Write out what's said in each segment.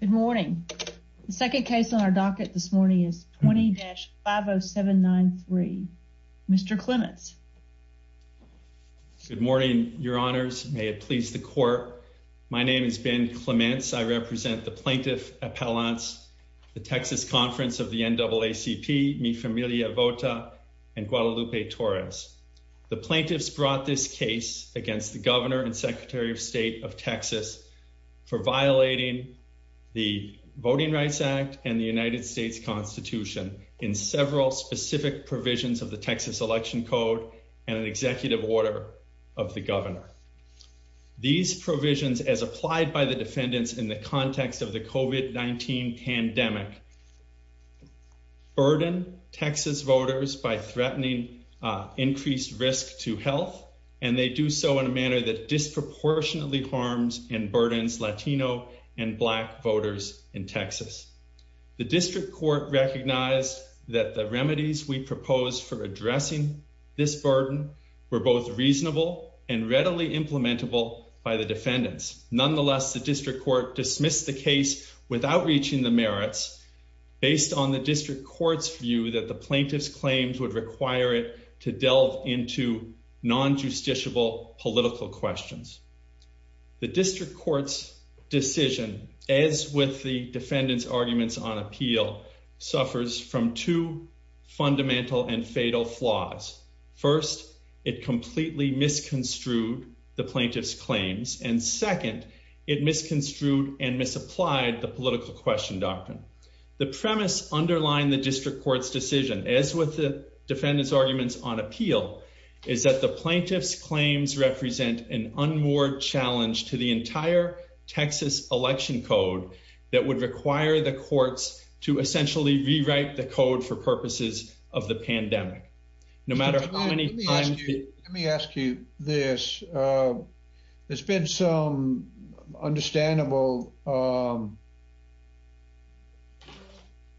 Good morning. The second case on our docket this morning is 20-50793. Mr. Clements. Good morning, your honors. May it please the court. My name is Ben Clements. I represent the Plaintiff Appellants, the Texas Conference of the NAACP, Mi Familia Vota, and Guadalupe Torres. The plaintiffs brought this case against the governor and secretary of state of Texas for violating the Voting Rights Act and the United States Constitution in several specific provisions of the Texas Election Code and an executive order of the governor. These provisions, as applied by the defendants in the context of the COVID-19 pandemic, burden Texas voters by threatening increased risk to health, and they do so in a manner that disproportionately harms and burdens Latino and Black voters in Texas. The district court recognized that the remedies we proposed for addressing this burden were both reasonable and readily implementable by the defendants. Nonetheless, the district court dismissed the case without reaching the merits based on the district court's view that the plaintiff's claims would require it to delve into non-justiciable political questions. The district court's decision, as with the defendants' arguments on appeal, suffers from two fundamental and fatal flaws. First, it completely misconstrued the plaintiff's claims, and second, it misconstrued and misapplied the political question doctrine. The premise underlying the district court's decision, as with the defendants' arguments on appeal, is that the plaintiff's claims represent an unmoored challenge to the entire Texas Election Code that would require the courts to essentially rewrite the code for purposes of the pandemic. Let me ask you this. There's been some understandable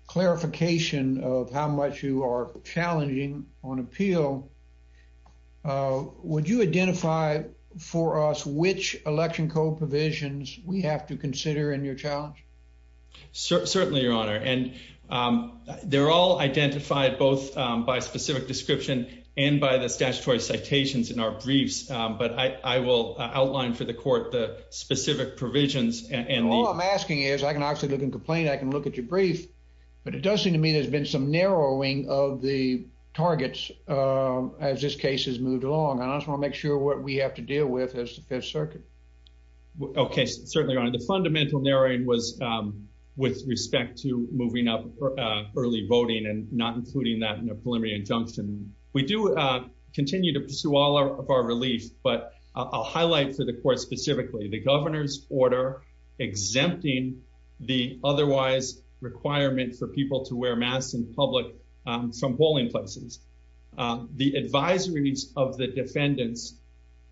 clarification of how much you are challenging on appeal. Would you identify for us which Election Code provisions we have to consider in your challenge? Certainly, Your Honor, and they're all identified both by specific description and by the statutory citations in our briefs, but I will outline for the court the specific provisions. All I'm asking is I can actually look and complain. I can look at your brief, but it does seem to me there's been some narrowing of the targets as this case has moved along, and I just want to make sure what we have to deal with is the Fifth Circuit. Okay, certainly, Your Honor. The fundamental narrowing was with respect to moving up early voting and not including that in a preliminary injunction. We do continue to pursue all of our relief, but I'll highlight for the court specifically the governor's order exempting the otherwise requirement for people to wear masks in public polling places. The advisories of the defendants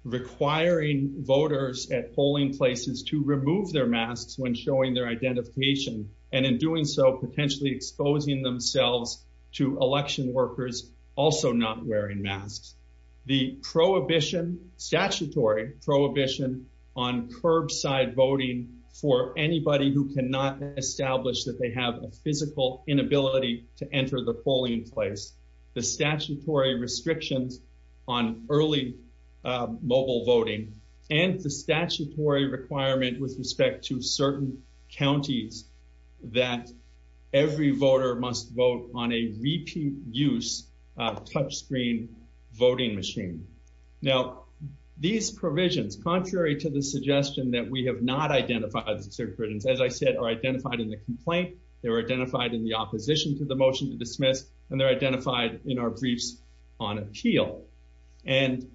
requiring voters at polling places to remove their masks when showing their identification, and in doing so, potentially exposing themselves to election workers also not wearing masks. The prohibition, statutory prohibition on curbside voting for anybody who cannot establish that they have a physical inability to enter the polling place. The statutory restrictions on early mobile voting and the statutory requirement with respect to certain counties that every voter must vote on a repeat use touchscreen voting machine. Now, these provisions, contrary to the suggestion that we have not identified, as I said, are identified in the complaint, they were identified in the opposition to the motion to dismiss, and they're identified in our briefs on appeal. And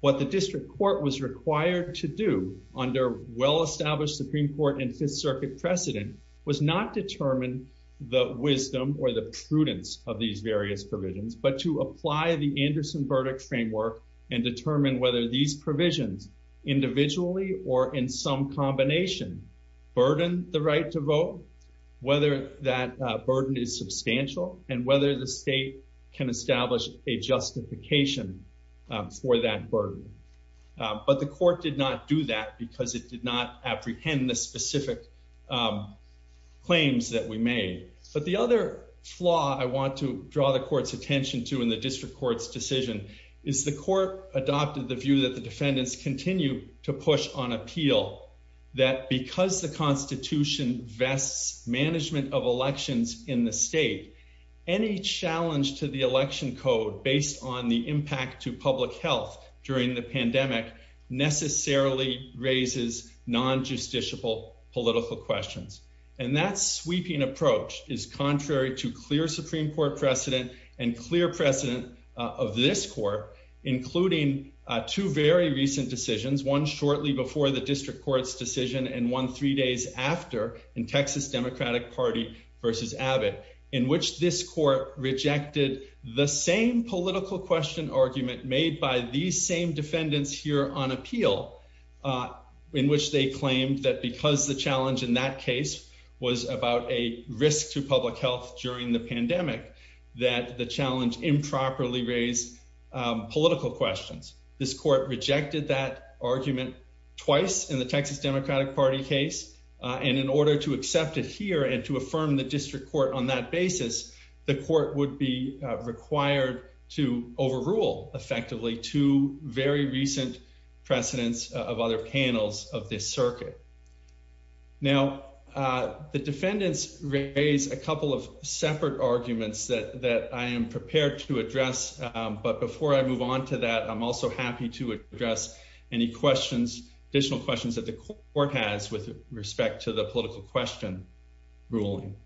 what the district court was required to do under well-established Supreme Court and Fifth Circuit precedent was not determine the wisdom or the prudence of these various provisions, but to apply the Anderson verdict framework and determine whether these provisions individually or in some combination burden the right to vote, whether that burden is substantial, and whether the state can establish a justification for that burden. But the court did not do that because it did not apprehend the specific claims that we made. But the other flaw I want to draw the court's attention to in the district court's decision is the court adopted the view that the defendants continue to push on appeal that because the Constitution vests management of elections in the state, any challenge to the election code based on the impact to public health during the pandemic necessarily raises non-justiciable political questions. And that sweeping approach is contrary to clear Supreme Court precedent and clear precedent of this court, including two very recent decisions, one shortly before the district court's decision and one three days after in Texas Democratic Party versus Abbott, in which this court rejected the same political question argument made by these same defendants here on appeal, in which they claimed that because the challenge in that case was about a risk to public health during the pandemic, that the challenge improperly raise political questions. This court rejected that argument twice in the Texas Democratic Party case, and in order to accept it here and to affirm the district court on that basis, the court would be required to overrule effectively two very recent precedents of other panels of this circuit. Now, the defendants raise a couple of separate arguments that I am prepared to address. But before I move on to that, I'm also happy to address any questions, additional questions that the court has with respect to the political question ruling.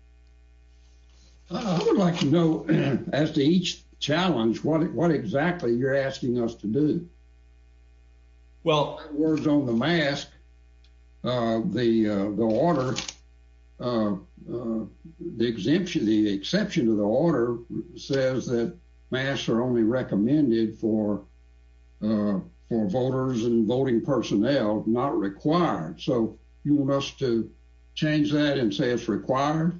I would like to know, as to each challenge, what exactly you're asking us to do? Well, words on the mask, the order, the exemption, the exception to the order says that masks are only recommended for voters and voting personnel, not required. So you want us to change that and say it's required?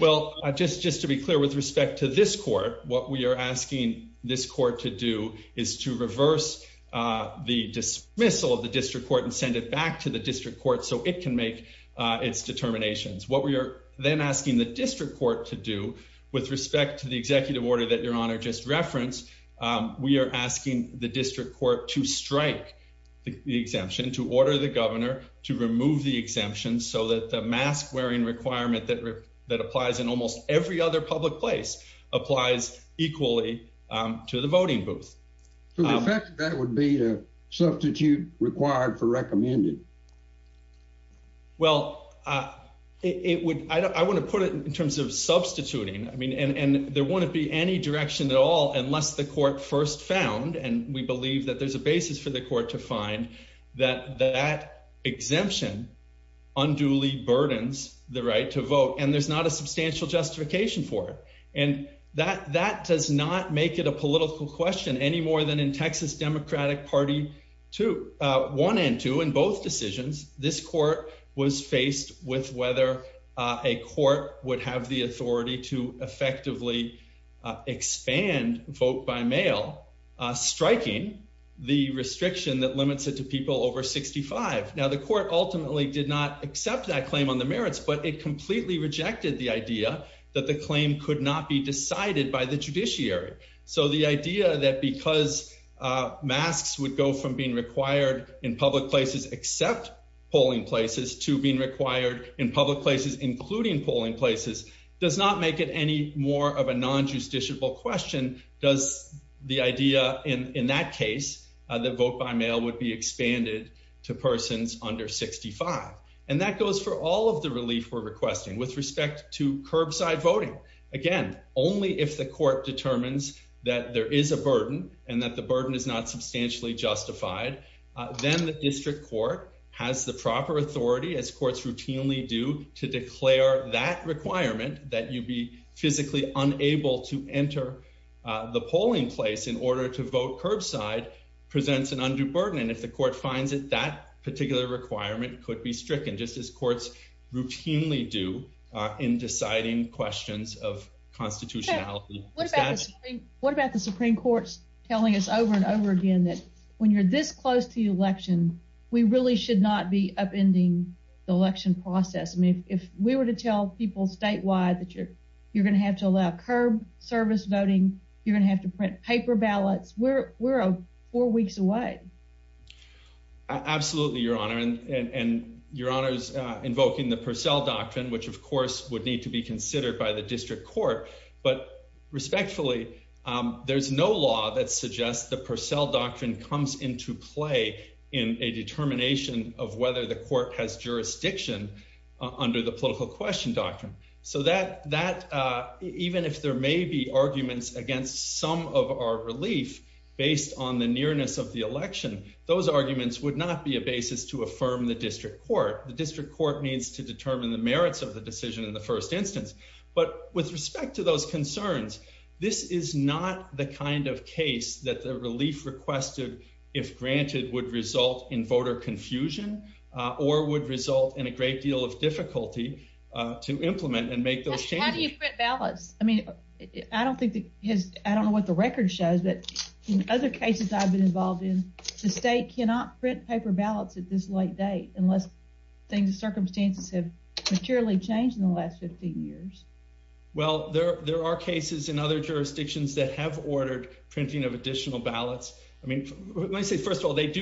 Well, just to be clear, with respect to this court, what we are asking this court to do is to reverse the dismissal of the district court and send it back to the district court so it can make its determinations. What we are then asking the district court to do, with respect to the executive order that Your Honor just referenced, we are asking the district court to strike the exemption, to order the governor to remove the exemption so that the mask wearing requirement that applies in almost every other public place applies equally to the voting booth. So the fact that that would be a substitute required for recommended? Well, I want to put it in terms of substituting. I mean, and there won't be any direction at all unless the court first found, and we believe that there's a basis for the court to find, that that exemption unduly burdens the right to vote, and there's not a substantial justification for it. And that does not make it a political question any more than in Texas Democratic Party 1 and 2. In both decisions, this court was faced with whether a court would have the authority to effectively expand vote-by-mail, striking the restriction that limits it to people over 65. Now, the court ultimately did not accept that claim on the merits, but it completely rejected the idea that the claim could not be decided by the judiciary. So the idea that because masks would go from being required in public places except polling places to being required in public places, including polling places, does not make it any more of a non-justiciable question. And does the idea in that case that vote-by-mail would be expanded to persons under 65. And that goes for all of the relief we're requesting with respect to curbside voting. Again, only if the court determines that there is a burden and that the burden is not substantially justified, then the district court has the proper authority, as courts routinely do, to declare that requirement that you be physically unable to enter the polling place in order to vote curbside presents an undue burden. And if the court finds it, that particular requirement could be stricken, just as courts routinely do in deciding questions of constitutionality. What about the Supreme Court's telling us over and over again that when you're this close to the election, we really should not be upending the election process? I mean, if we were to tell people statewide that you're going to have to allow curb service voting, you're going to have to print paper ballots, we're four weeks away. Absolutely, Your Honor. And Your Honor's invoking the Purcell Doctrine, which of course would need to be considered by the district court. But respectfully, there's no law that suggests the Purcell Doctrine comes into play in a determination of whether the court has jurisdiction under the political question doctrine. So even if there may be arguments against some of our relief based on the nearness of the election, those arguments would not be a basis to affirm the district court. The district court needs to determine the merits of the decision in the first instance. But with respect to those concerns, this is not the kind of case that the relief requested, if granted, would result in voter confusion, or would result in a great deal of difficulty to implement and make those changes. How do you print ballots? I don't know what the record shows, but in other cases I've been involved in, the state cannot print paper ballots at this late date unless circumstances have changed in the last 15 years. Well, there are cases in other jurisdictions that have ordered printing of additional ballots. I mean, let me say first of all, they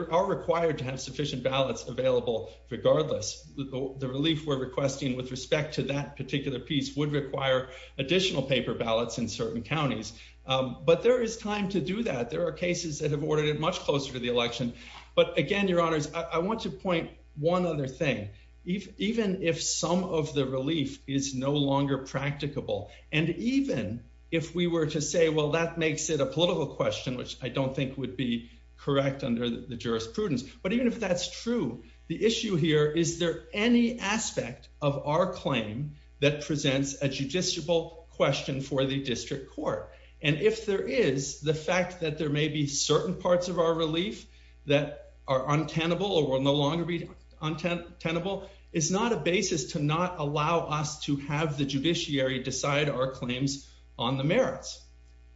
are required to have sufficient ballots available regardless. The relief we're requesting with respect to that particular piece would require additional paper ballots in certain counties. But there is time to do that. There are cases that have ordered it much closer to the election. But again, your honors, I want to point one other thing. Even if some of the relief is no longer practicable, and even if we were to say, well, that makes it a political question, which I don't think would be correct under the jurisprudence. But even if that's true, the issue here, is there any aspect of our claim that presents a judiciable question for the district court? And if there is, the fact that there may be certain parts of our relief that are untenable or will no longer be untenable is not a basis to not allow us to have the judiciary decide our claims on the merits.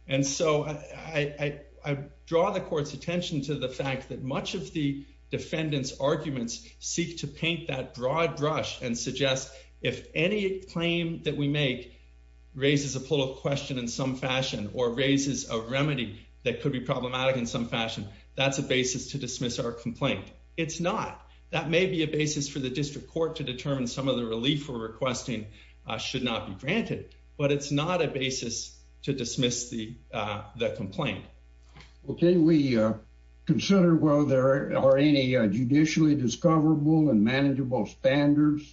And so I draw the court's attention to the fact that much of the defendant's arguments seek to paint that broad brush and suggest if any claim that we make raises a political question in some fashion or raises a remedy that could be problematic in some fashion, that's a basis to dismiss our complaint. It's not. That may be a basis for the district court to determine some of the relief we're requesting should not be granted, but it's not a basis to dismiss the complaint. Okay. We consider, well, there are any judicially discoverable and manageable standards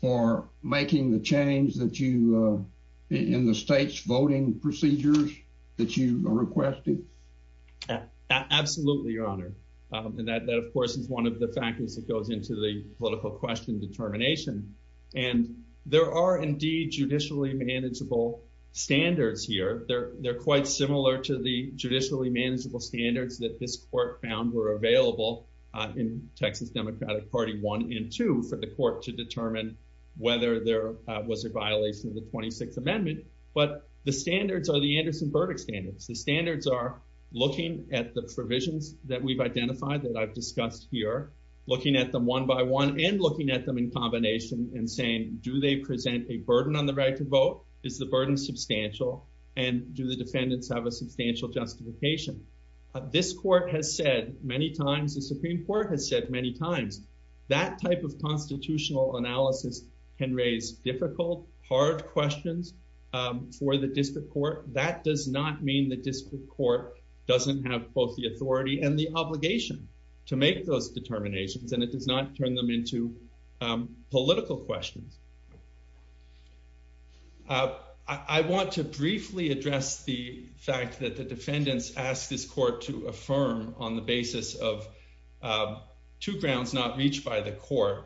for making the change that you, in the state's voting procedures that you requested? Absolutely, Your Honor. And that, of course, is one of the factors that goes into the political question determination. And there are indeed judicially manageable standards here. They're quite similar to the judicially manageable standards that this court found were available in Texas Democratic Party 1 and 2 for the court to determine whether there was a violation of the 26th Amendment. But the standards are the Anderson-Burdick standards. The standards are looking at the provisions that we've identified that I've discussed here, looking at them one by one and looking at them in combination and saying, do they present a burden on the right to vote? Is the burden substantial? And do the defendants have a substantial justification? This court has said many times, the Supreme Court has said many times, that type of constitutional analysis can raise difficult, hard questions for the district court. That does not mean the district court doesn't have both the authority and the obligation to make those determinations, and it does not turn them into political questions. I want to briefly address the fact that the defendants asked this court to affirm on the basis of two grounds not reached by the court,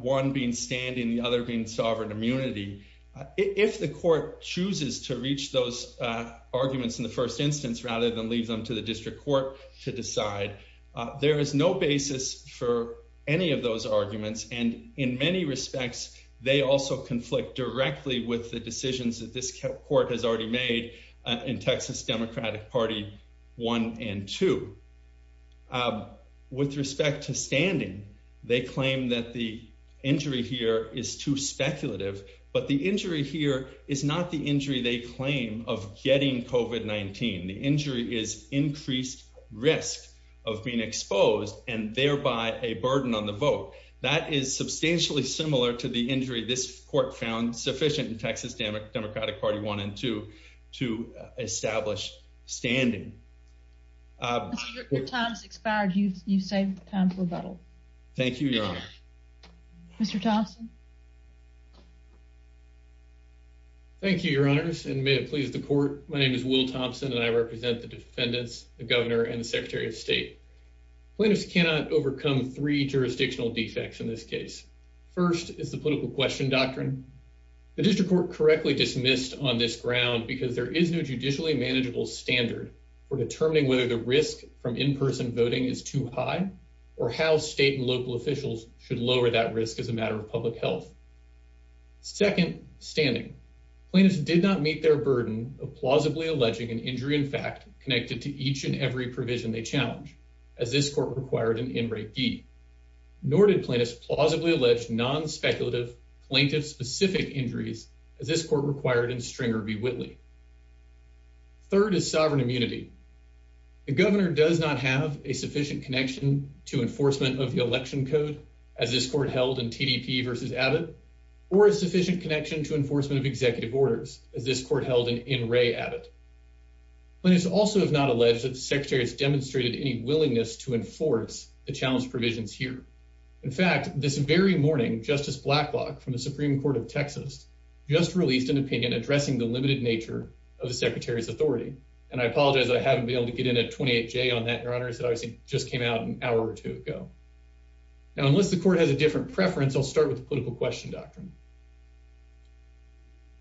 one being standing, the other being sovereign immunity. If the court chooses to reach those arguments in the first instance rather than leave them to the district court to decide, there is no basis for any of those arguments, and in many respects, they also conflict directly with the decisions that this court has already made in Texas Democratic Party 1 and 2. With respect to standing, they claim that the injury here is too speculative, but the injury here is not the injury they claim of getting COVID-19. The injury is increased risk of being exposed and thereby a burden on the vote. That is substantially similar to the injury this court found sufficient in Texas Democratic Party 1 and 2 to establish standing. Your time has expired. You've saved time for rebuttal. Thank you, Your Honor. Mr. Thompson? Thank you, Your Honors, and may it please the court. My name is Will Thompson, and I represent the defendants, the governor, and the secretary of state. Plaintiffs cannot overcome three jurisdictional defects in this case. First is the political question doctrine. The district court correctly dismissed on this ground because there is no judicially manageable standard for determining whether the risk from in-person voting is too high or how state and local officials should lower that risk as a matter of public health. Second, standing. Plaintiffs did not meet their burden of plausibly alleging an injury in fact connected to each and every provision they challenge, as this court required in In Re Gee. Nor did plaintiffs plausibly allege non-speculative plaintiff-specific injuries, as this court required in Stringer v. Whitley. Third is sovereign immunity. The governor does not have a sufficient connection to enforcement of the election code, as this court held in TDP v. Abbott, or a sufficient connection to enforcement of executive orders, as this court held in In Re Abbott. Plaintiffs also have not alleged that the secretary has demonstrated any willingness to enforce the challenge provisions here. In fact, this very morning, Justice Blacklock from the Supreme Court of Texas just released an opinion addressing the limited nature of the secretary's authority. And I apologize that I haven't been able to get in a 28-J on that, Your Honor, as it obviously just came out an hour or two ago. Now, unless the court has a different preference, I'll start with the political question doctrine.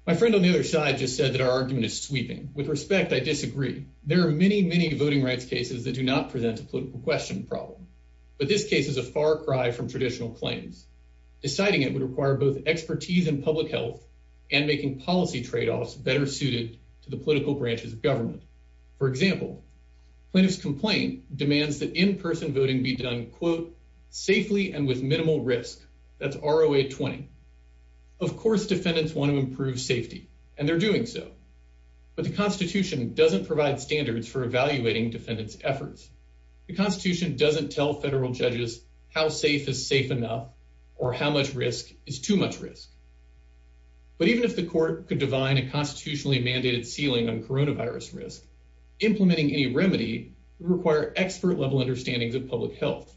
My friend on the other side just said that our argument is sweeping. With respect, I disagree. There are many, many voting rights cases that do not present a political question problem. But this case is a far cry from traditional claims. Deciding it would require both expertise in public health and making policy tradeoffs better suited to the political branches of government. For example, plaintiff's complaint demands that in-person voting be done, quote, safely and with minimal risk. That's ROA 20. Of course, defendants want to improve safety, and they're doing so. But the Constitution doesn't provide standards for evaluating defendants' efforts. The Constitution doesn't tell federal judges how safe is safe enough or how much risk is too much risk. But even if the court could divine a constitutionally mandated ceiling on coronavirus risk, implementing any remedy would require expert-level understandings of public health.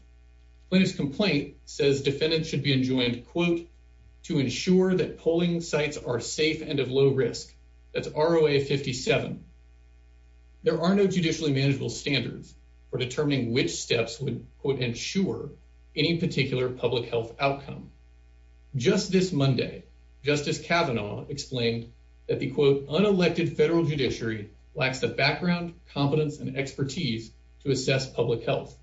Plaintiff's complaint says defendants should be enjoined, quote, to ensure that polling sites are safe and of low risk. That's ROA 57. There are no judicially manageable standards. For determining which steps would, quote, ensure any particular public health outcome. Just this Monday, Justice Kavanaugh explained that the, quote, unelected federal judiciary lacks the background, competence, and expertise to assess public health.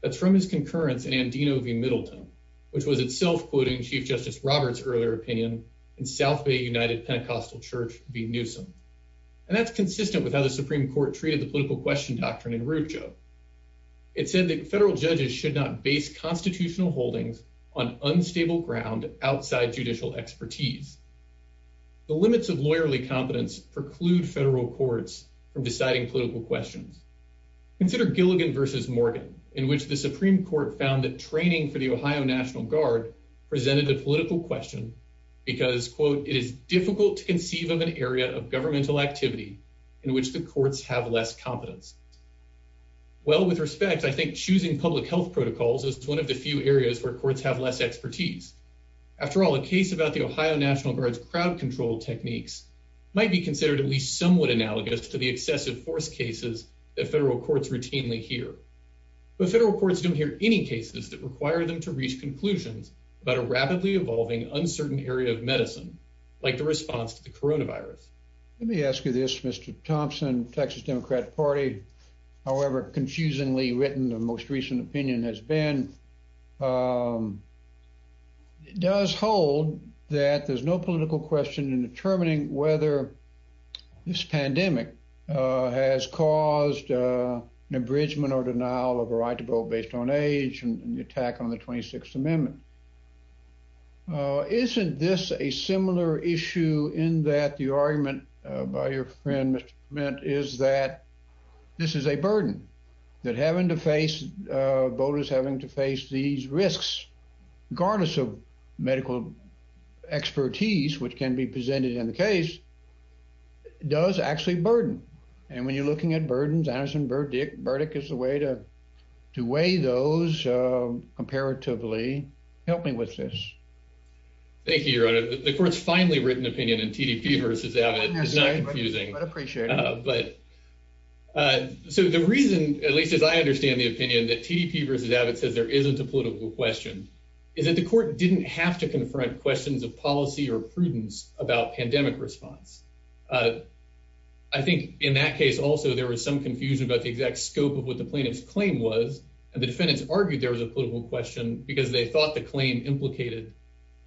That's from his concurrence in Andino v. Middleton, which was itself quoting Chief Justice Roberts' earlier opinion in South Bay United Pentecostal Church v. Newsom. And that's consistent with how the Supreme Court treated the political question doctrine in Rucho. It said that federal judges should not base constitutional holdings on unstable ground outside judicial expertise. The limits of lawyerly competence preclude federal courts from deciding political questions. Consider Gilligan v. Morgan, in which the Supreme Court found that training for the Ohio National Guard presented a political question because, quote, in which the courts have less competence. Well, with respect, I think choosing public health protocols is one of the few areas where courts have less expertise. After all, a case about the Ohio National Guard's crowd control techniques might be considered at least somewhat analogous to the excessive force cases that federal courts routinely hear. But federal courts don't hear any cases that require them to reach conclusions about a rapidly evolving uncertain area of medicine, like the response to the coronavirus. Let me ask you this, Mr. Thompson, Texas Democratic Party, however confusingly written the most recent opinion has been. It does hold that there's no political question in determining whether this pandemic has caused an abridgment or denial of a right to vote based on age and the attack on the 26th Amendment. Isn't this a similar issue in that the argument by your friend, Mr. Clement, is that this is a burden, that having to face voters having to face these risks, regardless of medical expertise, which can be presented in the case, does actually burden. And when you're looking at burdens, Anderson Burdick, Burdick is the way to to weigh those comparatively. Help me with this. Thank you, Your Honor. The court's finally written opinion in TDP versus Abbott is not confusing. But so the reason, at least as I understand the opinion that TDP versus Abbott says there isn't a political question, is that the court didn't have to confront questions of policy or prudence about pandemic response. I think in that case, also, there was some confusion about the exact scope of what the plaintiff's claim was. And the defendants argued there was a political question because they thought the claim implicated,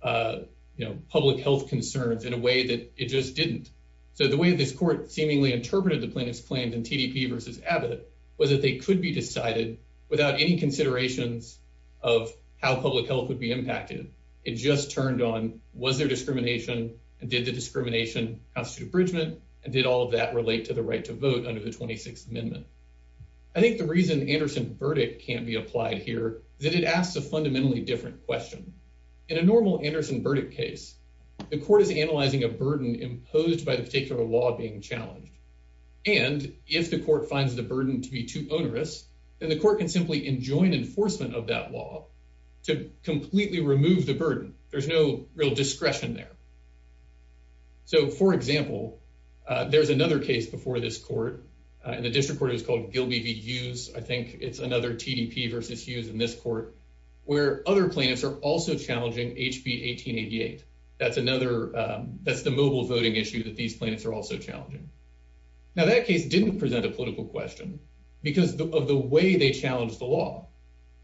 you know, public health concerns in a way that it just didn't. So the way this court seemingly interpreted the plaintiff's claims in TDP versus Abbott was that they could be decided without any considerations of how public health would be impacted. It just turned on was there discrimination and did the discrimination constitute abridgment? And did all of that relate to the right to vote under the 26th Amendment? I think the reason Anderson Burdick can't be applied here is that it asks a fundamentally different question. In a normal Anderson Burdick case, the court is analyzing a burden imposed by the particular law being challenged. And if the court finds the burden to be too onerous, then the court can simply enjoin enforcement of that law to completely remove the burden. There's no real discretion there. So, for example, there's another case before this court, and the district court is called Gilby v. Hughes. I think it's another TDP versus Hughes in this court where other plaintiffs are also challenging HB 1888. That's the mobile voting issue that these plaintiffs are also challenging. Now, that case didn't present a political question because of the way they challenged the law.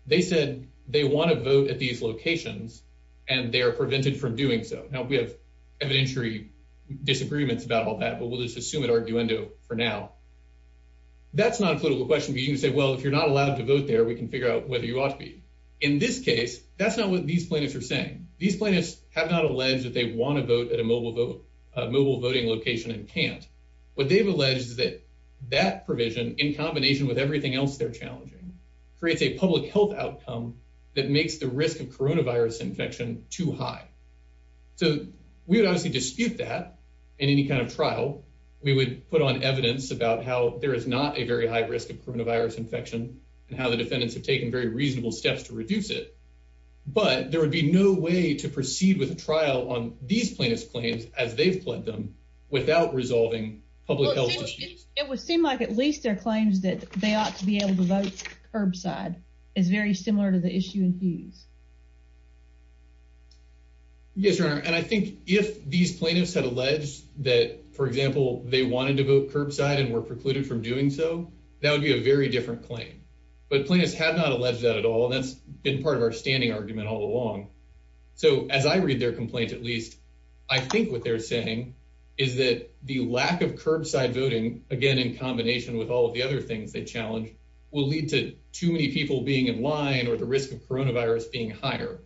They said they want to vote at these locations, and they are prevented from doing so. Now, we have evidentiary disagreements about all that, but we'll just assume it arguendo for now. That's not a political question, but you can say, well, if you're not allowed to vote there, we can figure out whether you ought to be. In this case, that's not what these plaintiffs are saying. These plaintiffs have not alleged that they want to vote at a mobile voting location and can't. What they've alleged is that that provision, in combination with everything else they're challenging, creates a public health outcome that makes the risk of coronavirus infection too high. So we would obviously dispute that in any kind of trial. We would put on evidence about how there is not a very high risk of coronavirus infection and how the defendants have taken very reasonable steps to reduce it. But there would be no way to proceed with a trial on these plaintiffs' claims as they've pledged them without resolving public health issues. It would seem like at least their claims that they ought to be able to vote curbside is very similar to the issue in Hughes. Yes, Your Honor, and I think if these plaintiffs had alleged that, for example, they wanted to vote curbside and were precluded from doing so, that would be a very different claim. But plaintiffs have not alleged that at all, and that's been part of our standing argument all along. So as I read their complaint, at least, I think what they're saying is that the lack of curbside voting, again, in combination with all of the other things they challenge, will lead to too many people being in line or the risk of coronavirus being higher.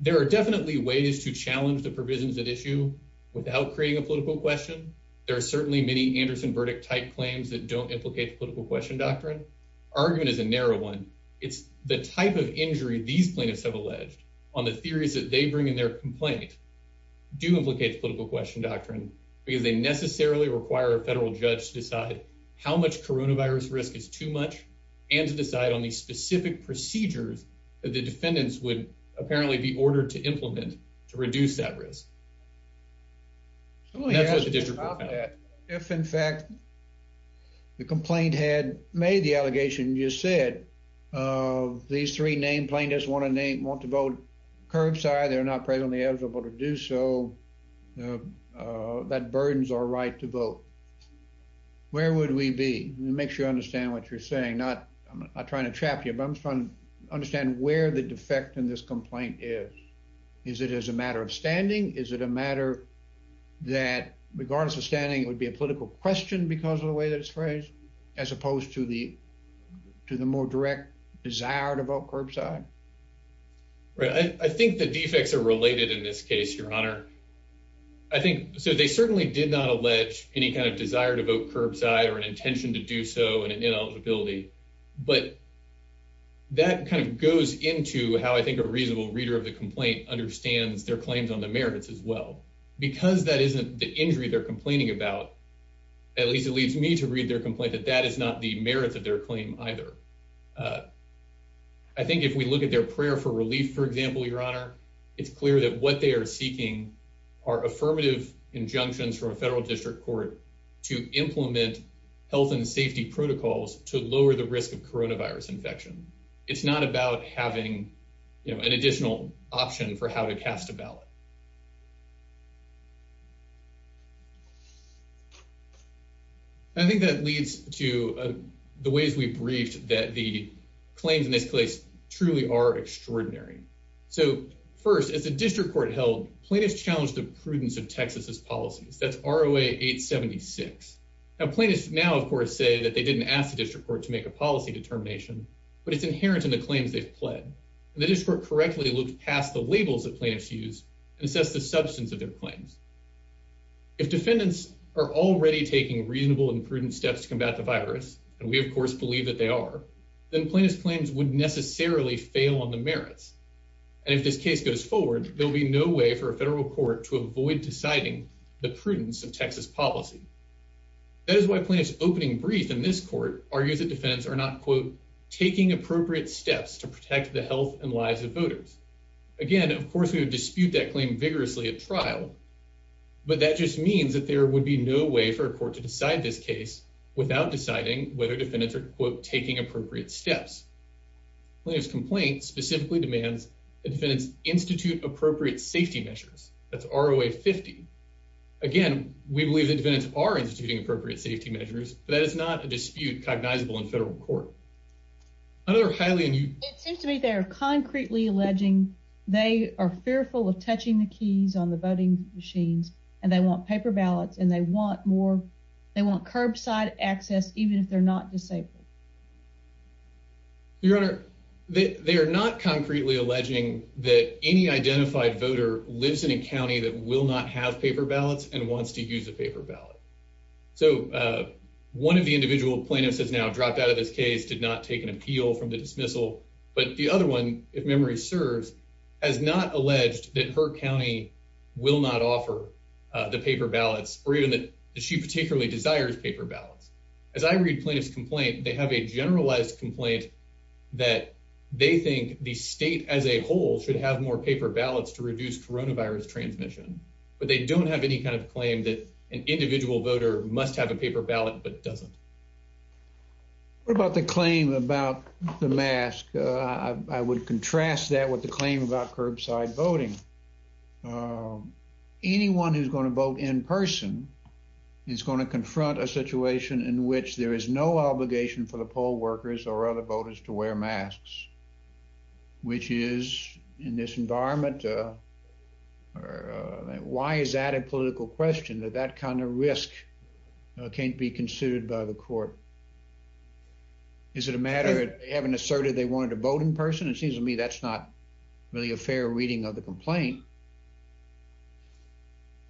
There are definitely ways to challenge the provisions at issue without creating a political question. There are certainly many Anderson verdict-type claims that don't implicate the political question doctrine. Argument is a narrow one. It's the type of injury these plaintiffs have alleged on the theories that they bring in their complaint do implicate the political question doctrine, because they necessarily require a federal judge to decide how much coronavirus risk is too much, and to decide on these specific procedures that the defendants would apparently be ordered to implement to reduce that risk. That's what the district court found. If, in fact, the complaint had made the allegation you said, these three plaintiffs want to vote curbside, they're not presently eligible to do so, that burdens our right to vote. Where would we be? Make sure you understand what you're saying. I'm not trying to trap you, but I'm trying to understand where the defect in this complaint is. Is it as a matter of standing? Is it a matter that, regardless of standing, it would be a political question because of the way that it's phrased, as opposed to the more direct desire to vote curbside? I think the defects are related in this case, Your Honor. They certainly did not allege any kind of desire to vote curbside or an intention to do so and an ineligibility, but that kind of goes into how I think a reasonable reader of the complaint understands their claims on the merits as well. Because that isn't the injury they're complaining about, at least it leads me to read their complaint, that that is not the merit of their claim either. I think if we look at their prayer for relief, for example, Your Honor, it's clear that what they are seeking are affirmative injunctions from a federal district court to implement health and safety protocols to lower the risk of coronavirus infection. It's not about having an additional option for how to cast a ballot. I think that leads to the ways we briefed that the claims in this case truly are extraordinary. So first, as a district court held, plaintiffs challenged the prudence of Texas's policies. That's ROA 876. Now, plaintiffs now, of course, say that they didn't ask the district court to make a policy determination, but it's inherent in the claims they've pled. And the district court correctly looked past the labels that plaintiffs use and assessed the substance of their claims. If defendants are already taking reasonable and prudent steps to combat the virus, and we, of course, believe that they are, then plaintiff's claims would necessarily fail on the merits. And if this case goes forward, there'll be no way for a federal court to avoid deciding the prudence of Texas policy. That is why plaintiffs' opening brief in this court argues that defendants are not, quote, taking appropriate steps to protect the health and lives of voters. Again, of course, we would dispute that claim vigorously at trial, but that just means that there would be no way for a court to decide this case without deciding whether defendants are, quote, taking appropriate steps. Plaintiff's complaint specifically demands that defendants institute appropriate safety measures. That's ROA 50. Again, we believe that defendants are instituting appropriate safety measures, but that is not a dispute cognizable in federal court. Another Hylian. It seems to me they're concretely alleging they are fearful of touching the keys on the voting machines, and they want paper ballots, and they want more. They want curbside access, even if they're not disabled. Your Honor, they are not concretely alleging that any identified voter lives in a county that will not have paper ballots and wants to use a paper ballot. So one of the individual plaintiffs has now dropped out of this case, one of whom is eligible from the dismissal, but the other one, if memory serves, has not alleged that her county will not offer the paper ballots or even that she particularly desires paper ballots. As I read plaintiff's complaint, they have a generalized complaint that they think the state as a whole should have more paper ballots to reduce coronavirus transmission, but they don't have any kind of claim that an individual voter must have a paper ballot but doesn't. What about the claim about the mask? I would contrast that with the claim about curbside voting. Anyone who's going to vote in person is going to confront a situation in which there is no obligation for the poll workers or other voters to wear masks, which is, in this environment, why is that a political question, that that kind of risk can't be considered by the court? Is it a matter of having asserted they wanted to vote in person? It seems to me that's not really a fair reading of the complaint.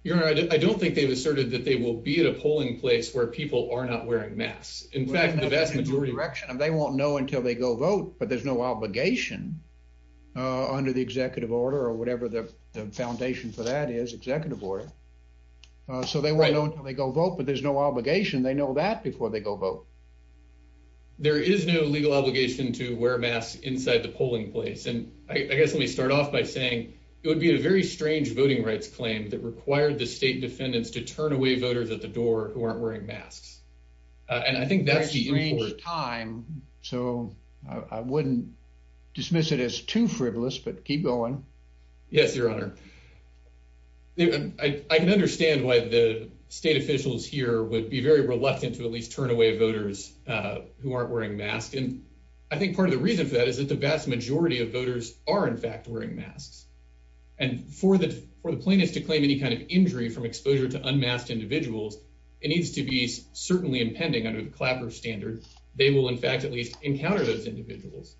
Your Honor, I don't think they've asserted that they will be at a polling place where people are not wearing masks. In fact, the vast majority... They won't know until they go vote, but there's no obligation under the executive order or whatever the foundation for that is, executive order. So they won't know until they go vote, but there's no obligation. They know that before they go vote. There is no legal obligation to wear masks inside the polling place. And I guess let me start off by saying it would be a very strange voting rights claim that required the state defendants to turn away voters at the door who aren't wearing masks. And I think that's the important... A strange time, so I wouldn't dismiss it as too frivolous, but keep going. Yes, Your Honor. I can understand why the state officials here would be very reluctant to at least turn away voters who aren't wearing masks. And I think part of the reason for that is that the vast majority of voters are in fact wearing masks. And for the plaintiffs to claim any kind of injury from exposure to unmasked individuals, it needs to be certainly impending under the Clapper standard. They will in fact at least encounter those individuals.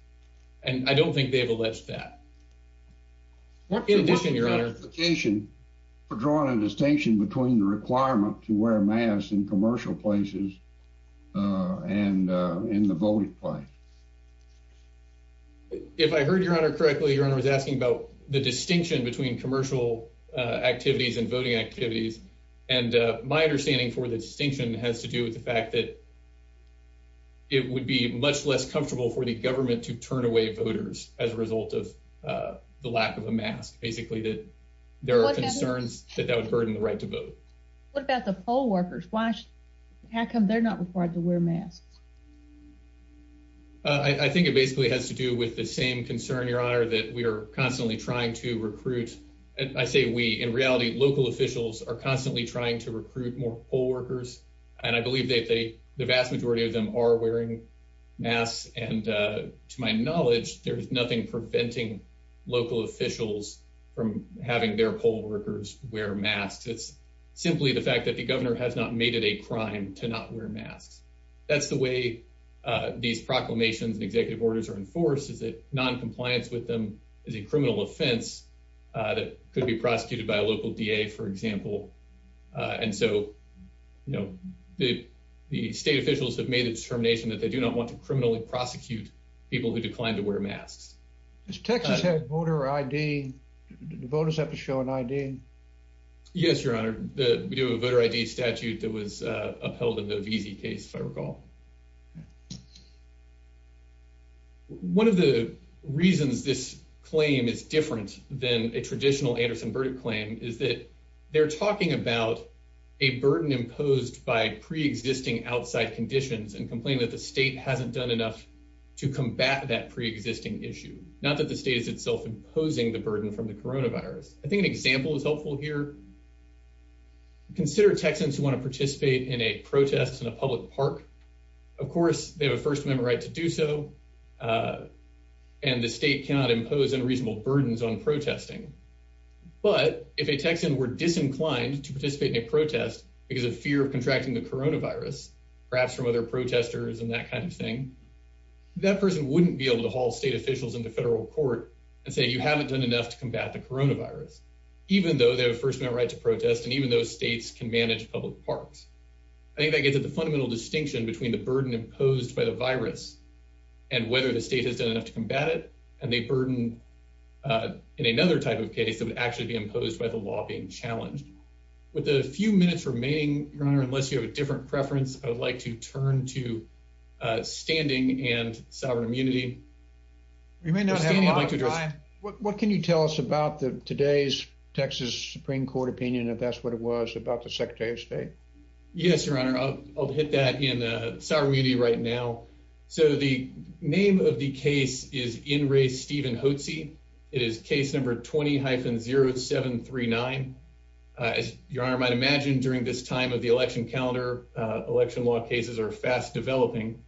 And I don't think they have alleged that. In addition, Your Honor... What's your justification for drawing a distinction between the requirement to wear masks in commercial places and in the voting place? If I heard Your Honor correctly, Your Honor was asking about the distinction between commercial activities and voting activities. And my understanding for the distinction has to do with the fact that it would be much less comfortable for the government to turn away voters as a result of the lack of a mask. Basically, there are concerns that that would burden the right to vote. What about the poll workers? How come they're not required to wear masks? I think it basically has to do with the same concern, Your Honor, that we are constantly trying to recruit... I say we. In reality, local officials are constantly trying to recruit more poll workers. And I believe that the vast majority of them are wearing masks. And to my knowledge, there's nothing preventing local officials from having their poll workers wear masks. It's simply the fact that the governor has not made it a crime to not wear masks. That's the way these proclamations and executive orders are enforced, is that noncompliance with them is a criminal offense that could be prosecuted by a local DA, for example. And so, you know, the state officials have made the determination that they do not want to criminally prosecute people who decline to wear masks. Does Texas have voter ID? Do voters have to show an ID? Yes, Your Honor. We do have a voter ID statute that was upheld in the Veezy case, if I recall. One of the reasons this claim is different than a traditional Anderson-Burdick claim is that they're talking about a burden imposed by pre-existing outside conditions that the state hasn't done enough to combat that pre-existing issue, not that the state is itself imposing the burden from the coronavirus. I think an example is helpful here. Consider Texans who want to participate in a protest in a public park. Of course, they have a First Amendment right to do so, and the state cannot impose unreasonable burdens on protesting. But if a Texan were disinclined to participate in a protest because of fear of contracting the coronavirus, perhaps from other protesters and that kind of thing, that person wouldn't be able to haul state officials into federal court and say you haven't done enough to combat the coronavirus, even though they have a First Amendment right to protest and even though states can manage public parks. I think that gives it the fundamental distinction between the burden imposed by the virus and whether the state has done enough to combat it, and they burden in another type of case that would actually be imposed by the law being challenged. With the few minutes remaining, Your Honor, I would like to turn to Standing and Sovereign Immunity. We may not have a lot of time. What can you tell us about today's Texas Supreme Court opinion, if that's what it was, about the Secretary of State? Yes, Your Honor. I'll hit that in Sovereign Immunity right now. So the name of the case is In Re Stephen Hotze. It is case number 20-0739. As Your Honor might imagine, during this time of the election calendar, election law cases are fast developing.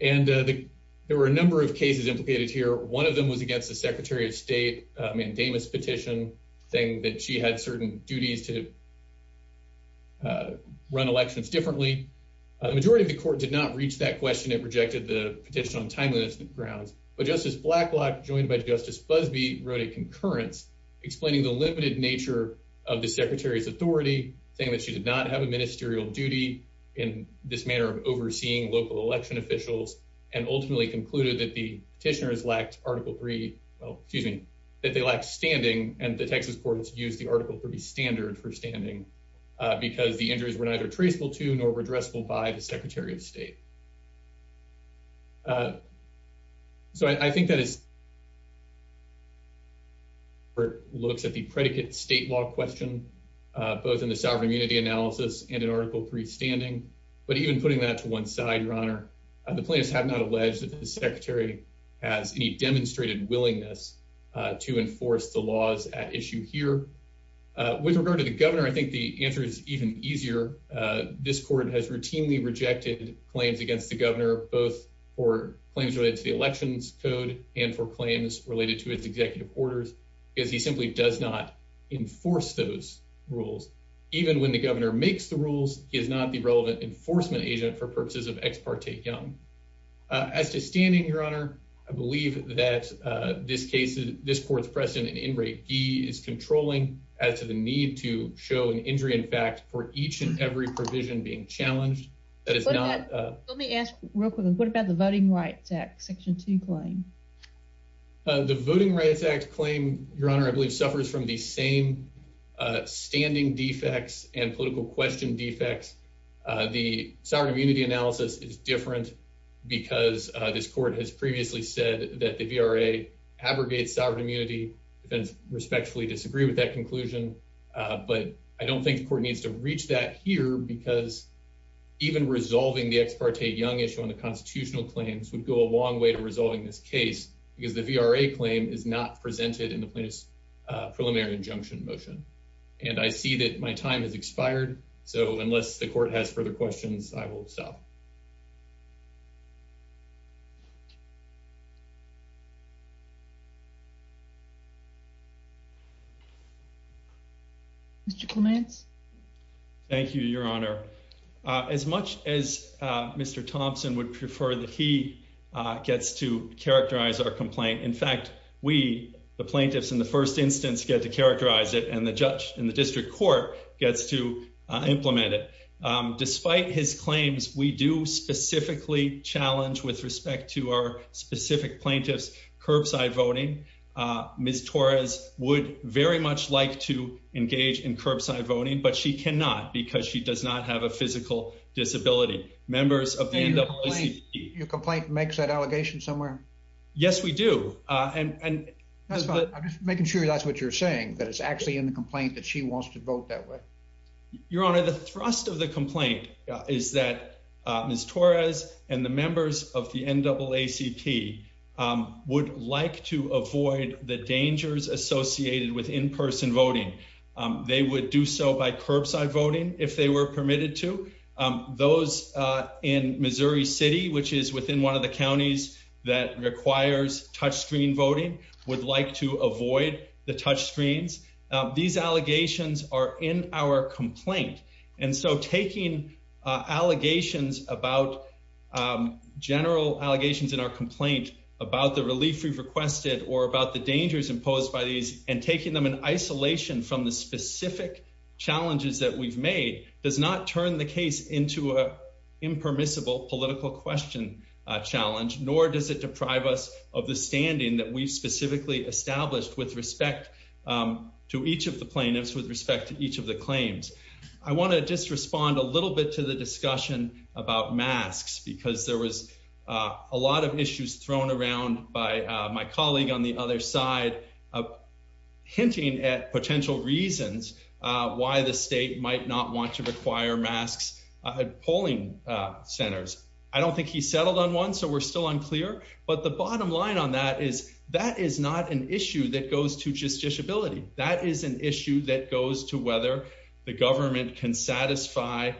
And there were a number of cases implicated here. One of them was against the Secretary of State, Mandamus petition, saying that she had certain duties to run elections differently. The majority of the court did not reach that question and rejected the petition on timeliness grounds. But Justice Blacklock, joined by Justice Busbee, wrote a concurrence explaining the limited nature of the Secretary's authority, saying that she did not have a ministerial duty in this manner of overseeing local election officials, and ultimately concluded that the petitioners lacked Article 3, well, excuse me, that they lacked standing, and the Texas courts used the Article 3 standard for standing because the injuries were neither traceable to nor redressable by the Secretary of State. So I think that is... ...looks at the predicate state law question, both in the Sovereign Immunity analysis and in Article 3 standing. But even putting that to one side, Your Honor, the plaintiffs have not alleged that the Secretary has any demonstrated willingness to enforce the laws at issue here. With regard to the governor, I think the answer is even easier. This court has routinely rejected claims against the governor, both for claims related to the elections code and for claims related to his executive orders, because he simply does not enforce those rules. Even when the governor makes the rules, he is not the relevant enforcement agent for purposes of Ex Parte Young. As to standing, Your Honor, I believe that this case, this court's precedent in Enright Gee is controlling as to the need to show an injury in fact for each and every provision being challenged. That is not... Let me ask real quickly, what about the Voting Rights Act Section 2 claim? The Voting Rights Act claim, Your Honor, I believe suffers from the same standing defects and political question defects. The sovereign immunity analysis is different because this court has previously said that the VRA abrogates sovereign immunity and respectfully disagree with that conclusion. But I don't think the court needs to reach that here because even resolving the Ex Parte Young issue on the constitutional claims would go a long way to resolving this case because the VRA claim is not presented in the plaintiff's preliminary injunction motion. And I see that my time has expired, so unless the court has further questions, I will stop. Mr. Clements? Thank you, Your Honor. As much as Mr. Thompson would prefer that he gets to characterize our complaint, in fact, we, the plaintiffs in the first instance, get to characterize it and the judge in the district court gets to implement it. Despite his claims, we do specifically challenge with respect to our specific plaintiff's curbside voting. Ms. Torres would very much like to engage in curbside voting, but she cannot because she does not have a physical disability. Members of the NAACP... Your complaint makes that allegation somewhere? Yes, we do. That's fine. I'm just saying that it's actually in the complaint that she wants to vote that way. Your Honor, the thrust of the complaint is that Ms. Torres and the members of the NAACP would like to avoid the dangers associated with in-person voting. They would do so by curbside voting if they were permitted to. Those in Missouri City, which is within one of the counties that requires touchscreen voting, would like to avoid the touchscreens. These allegations are in our complaint. And so taking allegations about... general allegations in our complaint about the relief we've requested or about the dangers imposed by these and taking them in isolation from the specific challenges that we've made does not turn the case into an impermissible political question challenge, nor does it deprive us of the standing that we've specifically established with respect to each of the plaintiffs, with respect to each of the claims. I want to just respond a little bit to the discussion about masks because there was a lot of issues thrown around by my colleague on the other side hinting at potential reasons why the state might not want to require masks at polling centers. I don't think he settled on one, so we're still unclear, because that is not an issue that goes to justiciability. That is an issue that goes to whether the government can satisfy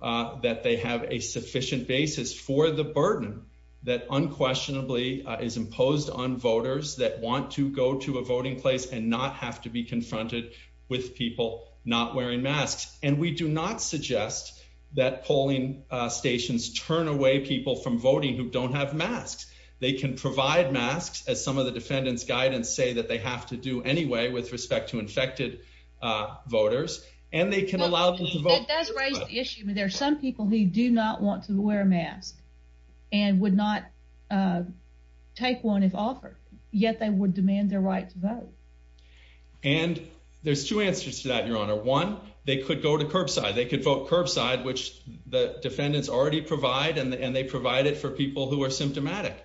that they have a sufficient basis for the burden that unquestionably is imposed on voters that want to go to a voting place and not have to be confronted with people not wearing masks. And we do not suggest that polling stations turn away people from voting who don't have masks. Some of the defendants' guidance say that they have to do anyway with respect to infected voters, and they can allow them to vote. That does raise the issue. There are some people who do not want to wear a mask and would not take one if offered, yet they would demand their right to vote. And there's two answers to that, Your Honor. One, they could go to curbside. They could vote curbside, which the defendants already provide, and they provide it for people who are symptomatic.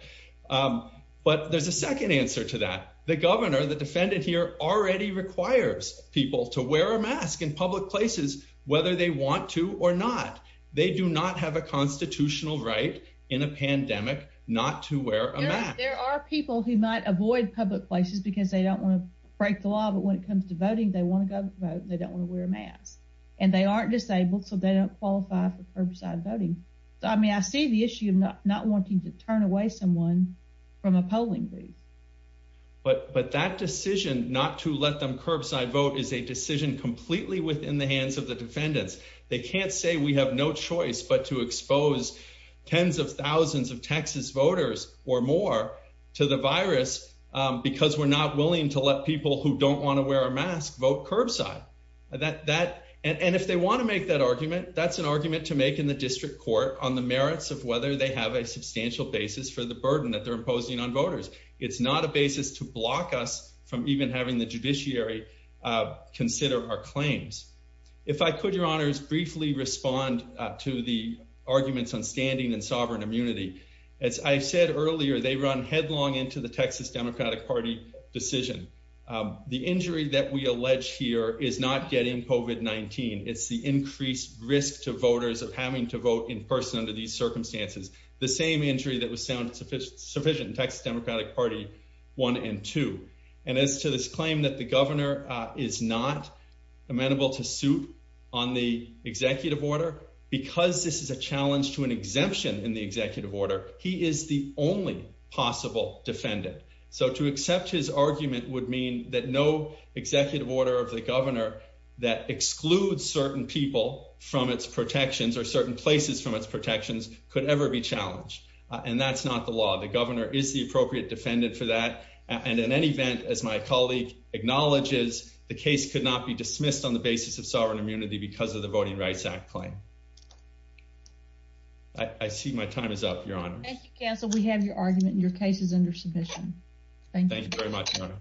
But there's a second answer to that. The governor, the defendant here, already requires people to wear a mask in public places whether they want to or not. They do not have a constitutional right in a pandemic not to wear a mask. There are people who might avoid public places because they don't want to break the law, but when it comes to voting, they want to go vote, and they don't want to wear a mask. And they aren't disabled, so they don't qualify for curbside voting. So, I mean, I see the issue of not wanting to turn away someone from a polling booth. But that decision not to let them curbside vote is a decision completely within the hands of the defendants. They can't say we have no choice but to expose tens of thousands of Texas voters or more to the virus because we're not willing to let people who don't want to wear a mask vote curbside. And if they want to make that argument, that's an argument to make in the district court on the merits of whether they have a substantial basis for the burden that they're imposing on voters. It's not a basis to block us from even having the judiciary consider our claims. If I could, Your Honors, briefly respond to the arguments on standing and sovereign immunity. As I said earlier, they run headlong into the Texas Democratic Party decision. The injury that we allege here is not getting COVID-19. It's the increased risk to voters of having to vote in person under these circumstances. The same injury that was found sufficient in Texas Democratic Party 1 and 2. And as to this claim that the governor is not amenable to suit on the executive order, because this is a challenge to an exemption in the executive order, he is the only possible defendant. So to accept his argument would mean that no executive order of the governor that excludes certain people from its protections or certain places from its protections could ever be challenged. And that's not the law. The governor is the appropriate defendant for that. And in any event, as my colleague acknowledges, the case could not be dismissed on the basis of sovereign immunity because of the Voting Rights Act claim. I see my time is up, Your Honors. Thank you, Counsel. Thank you.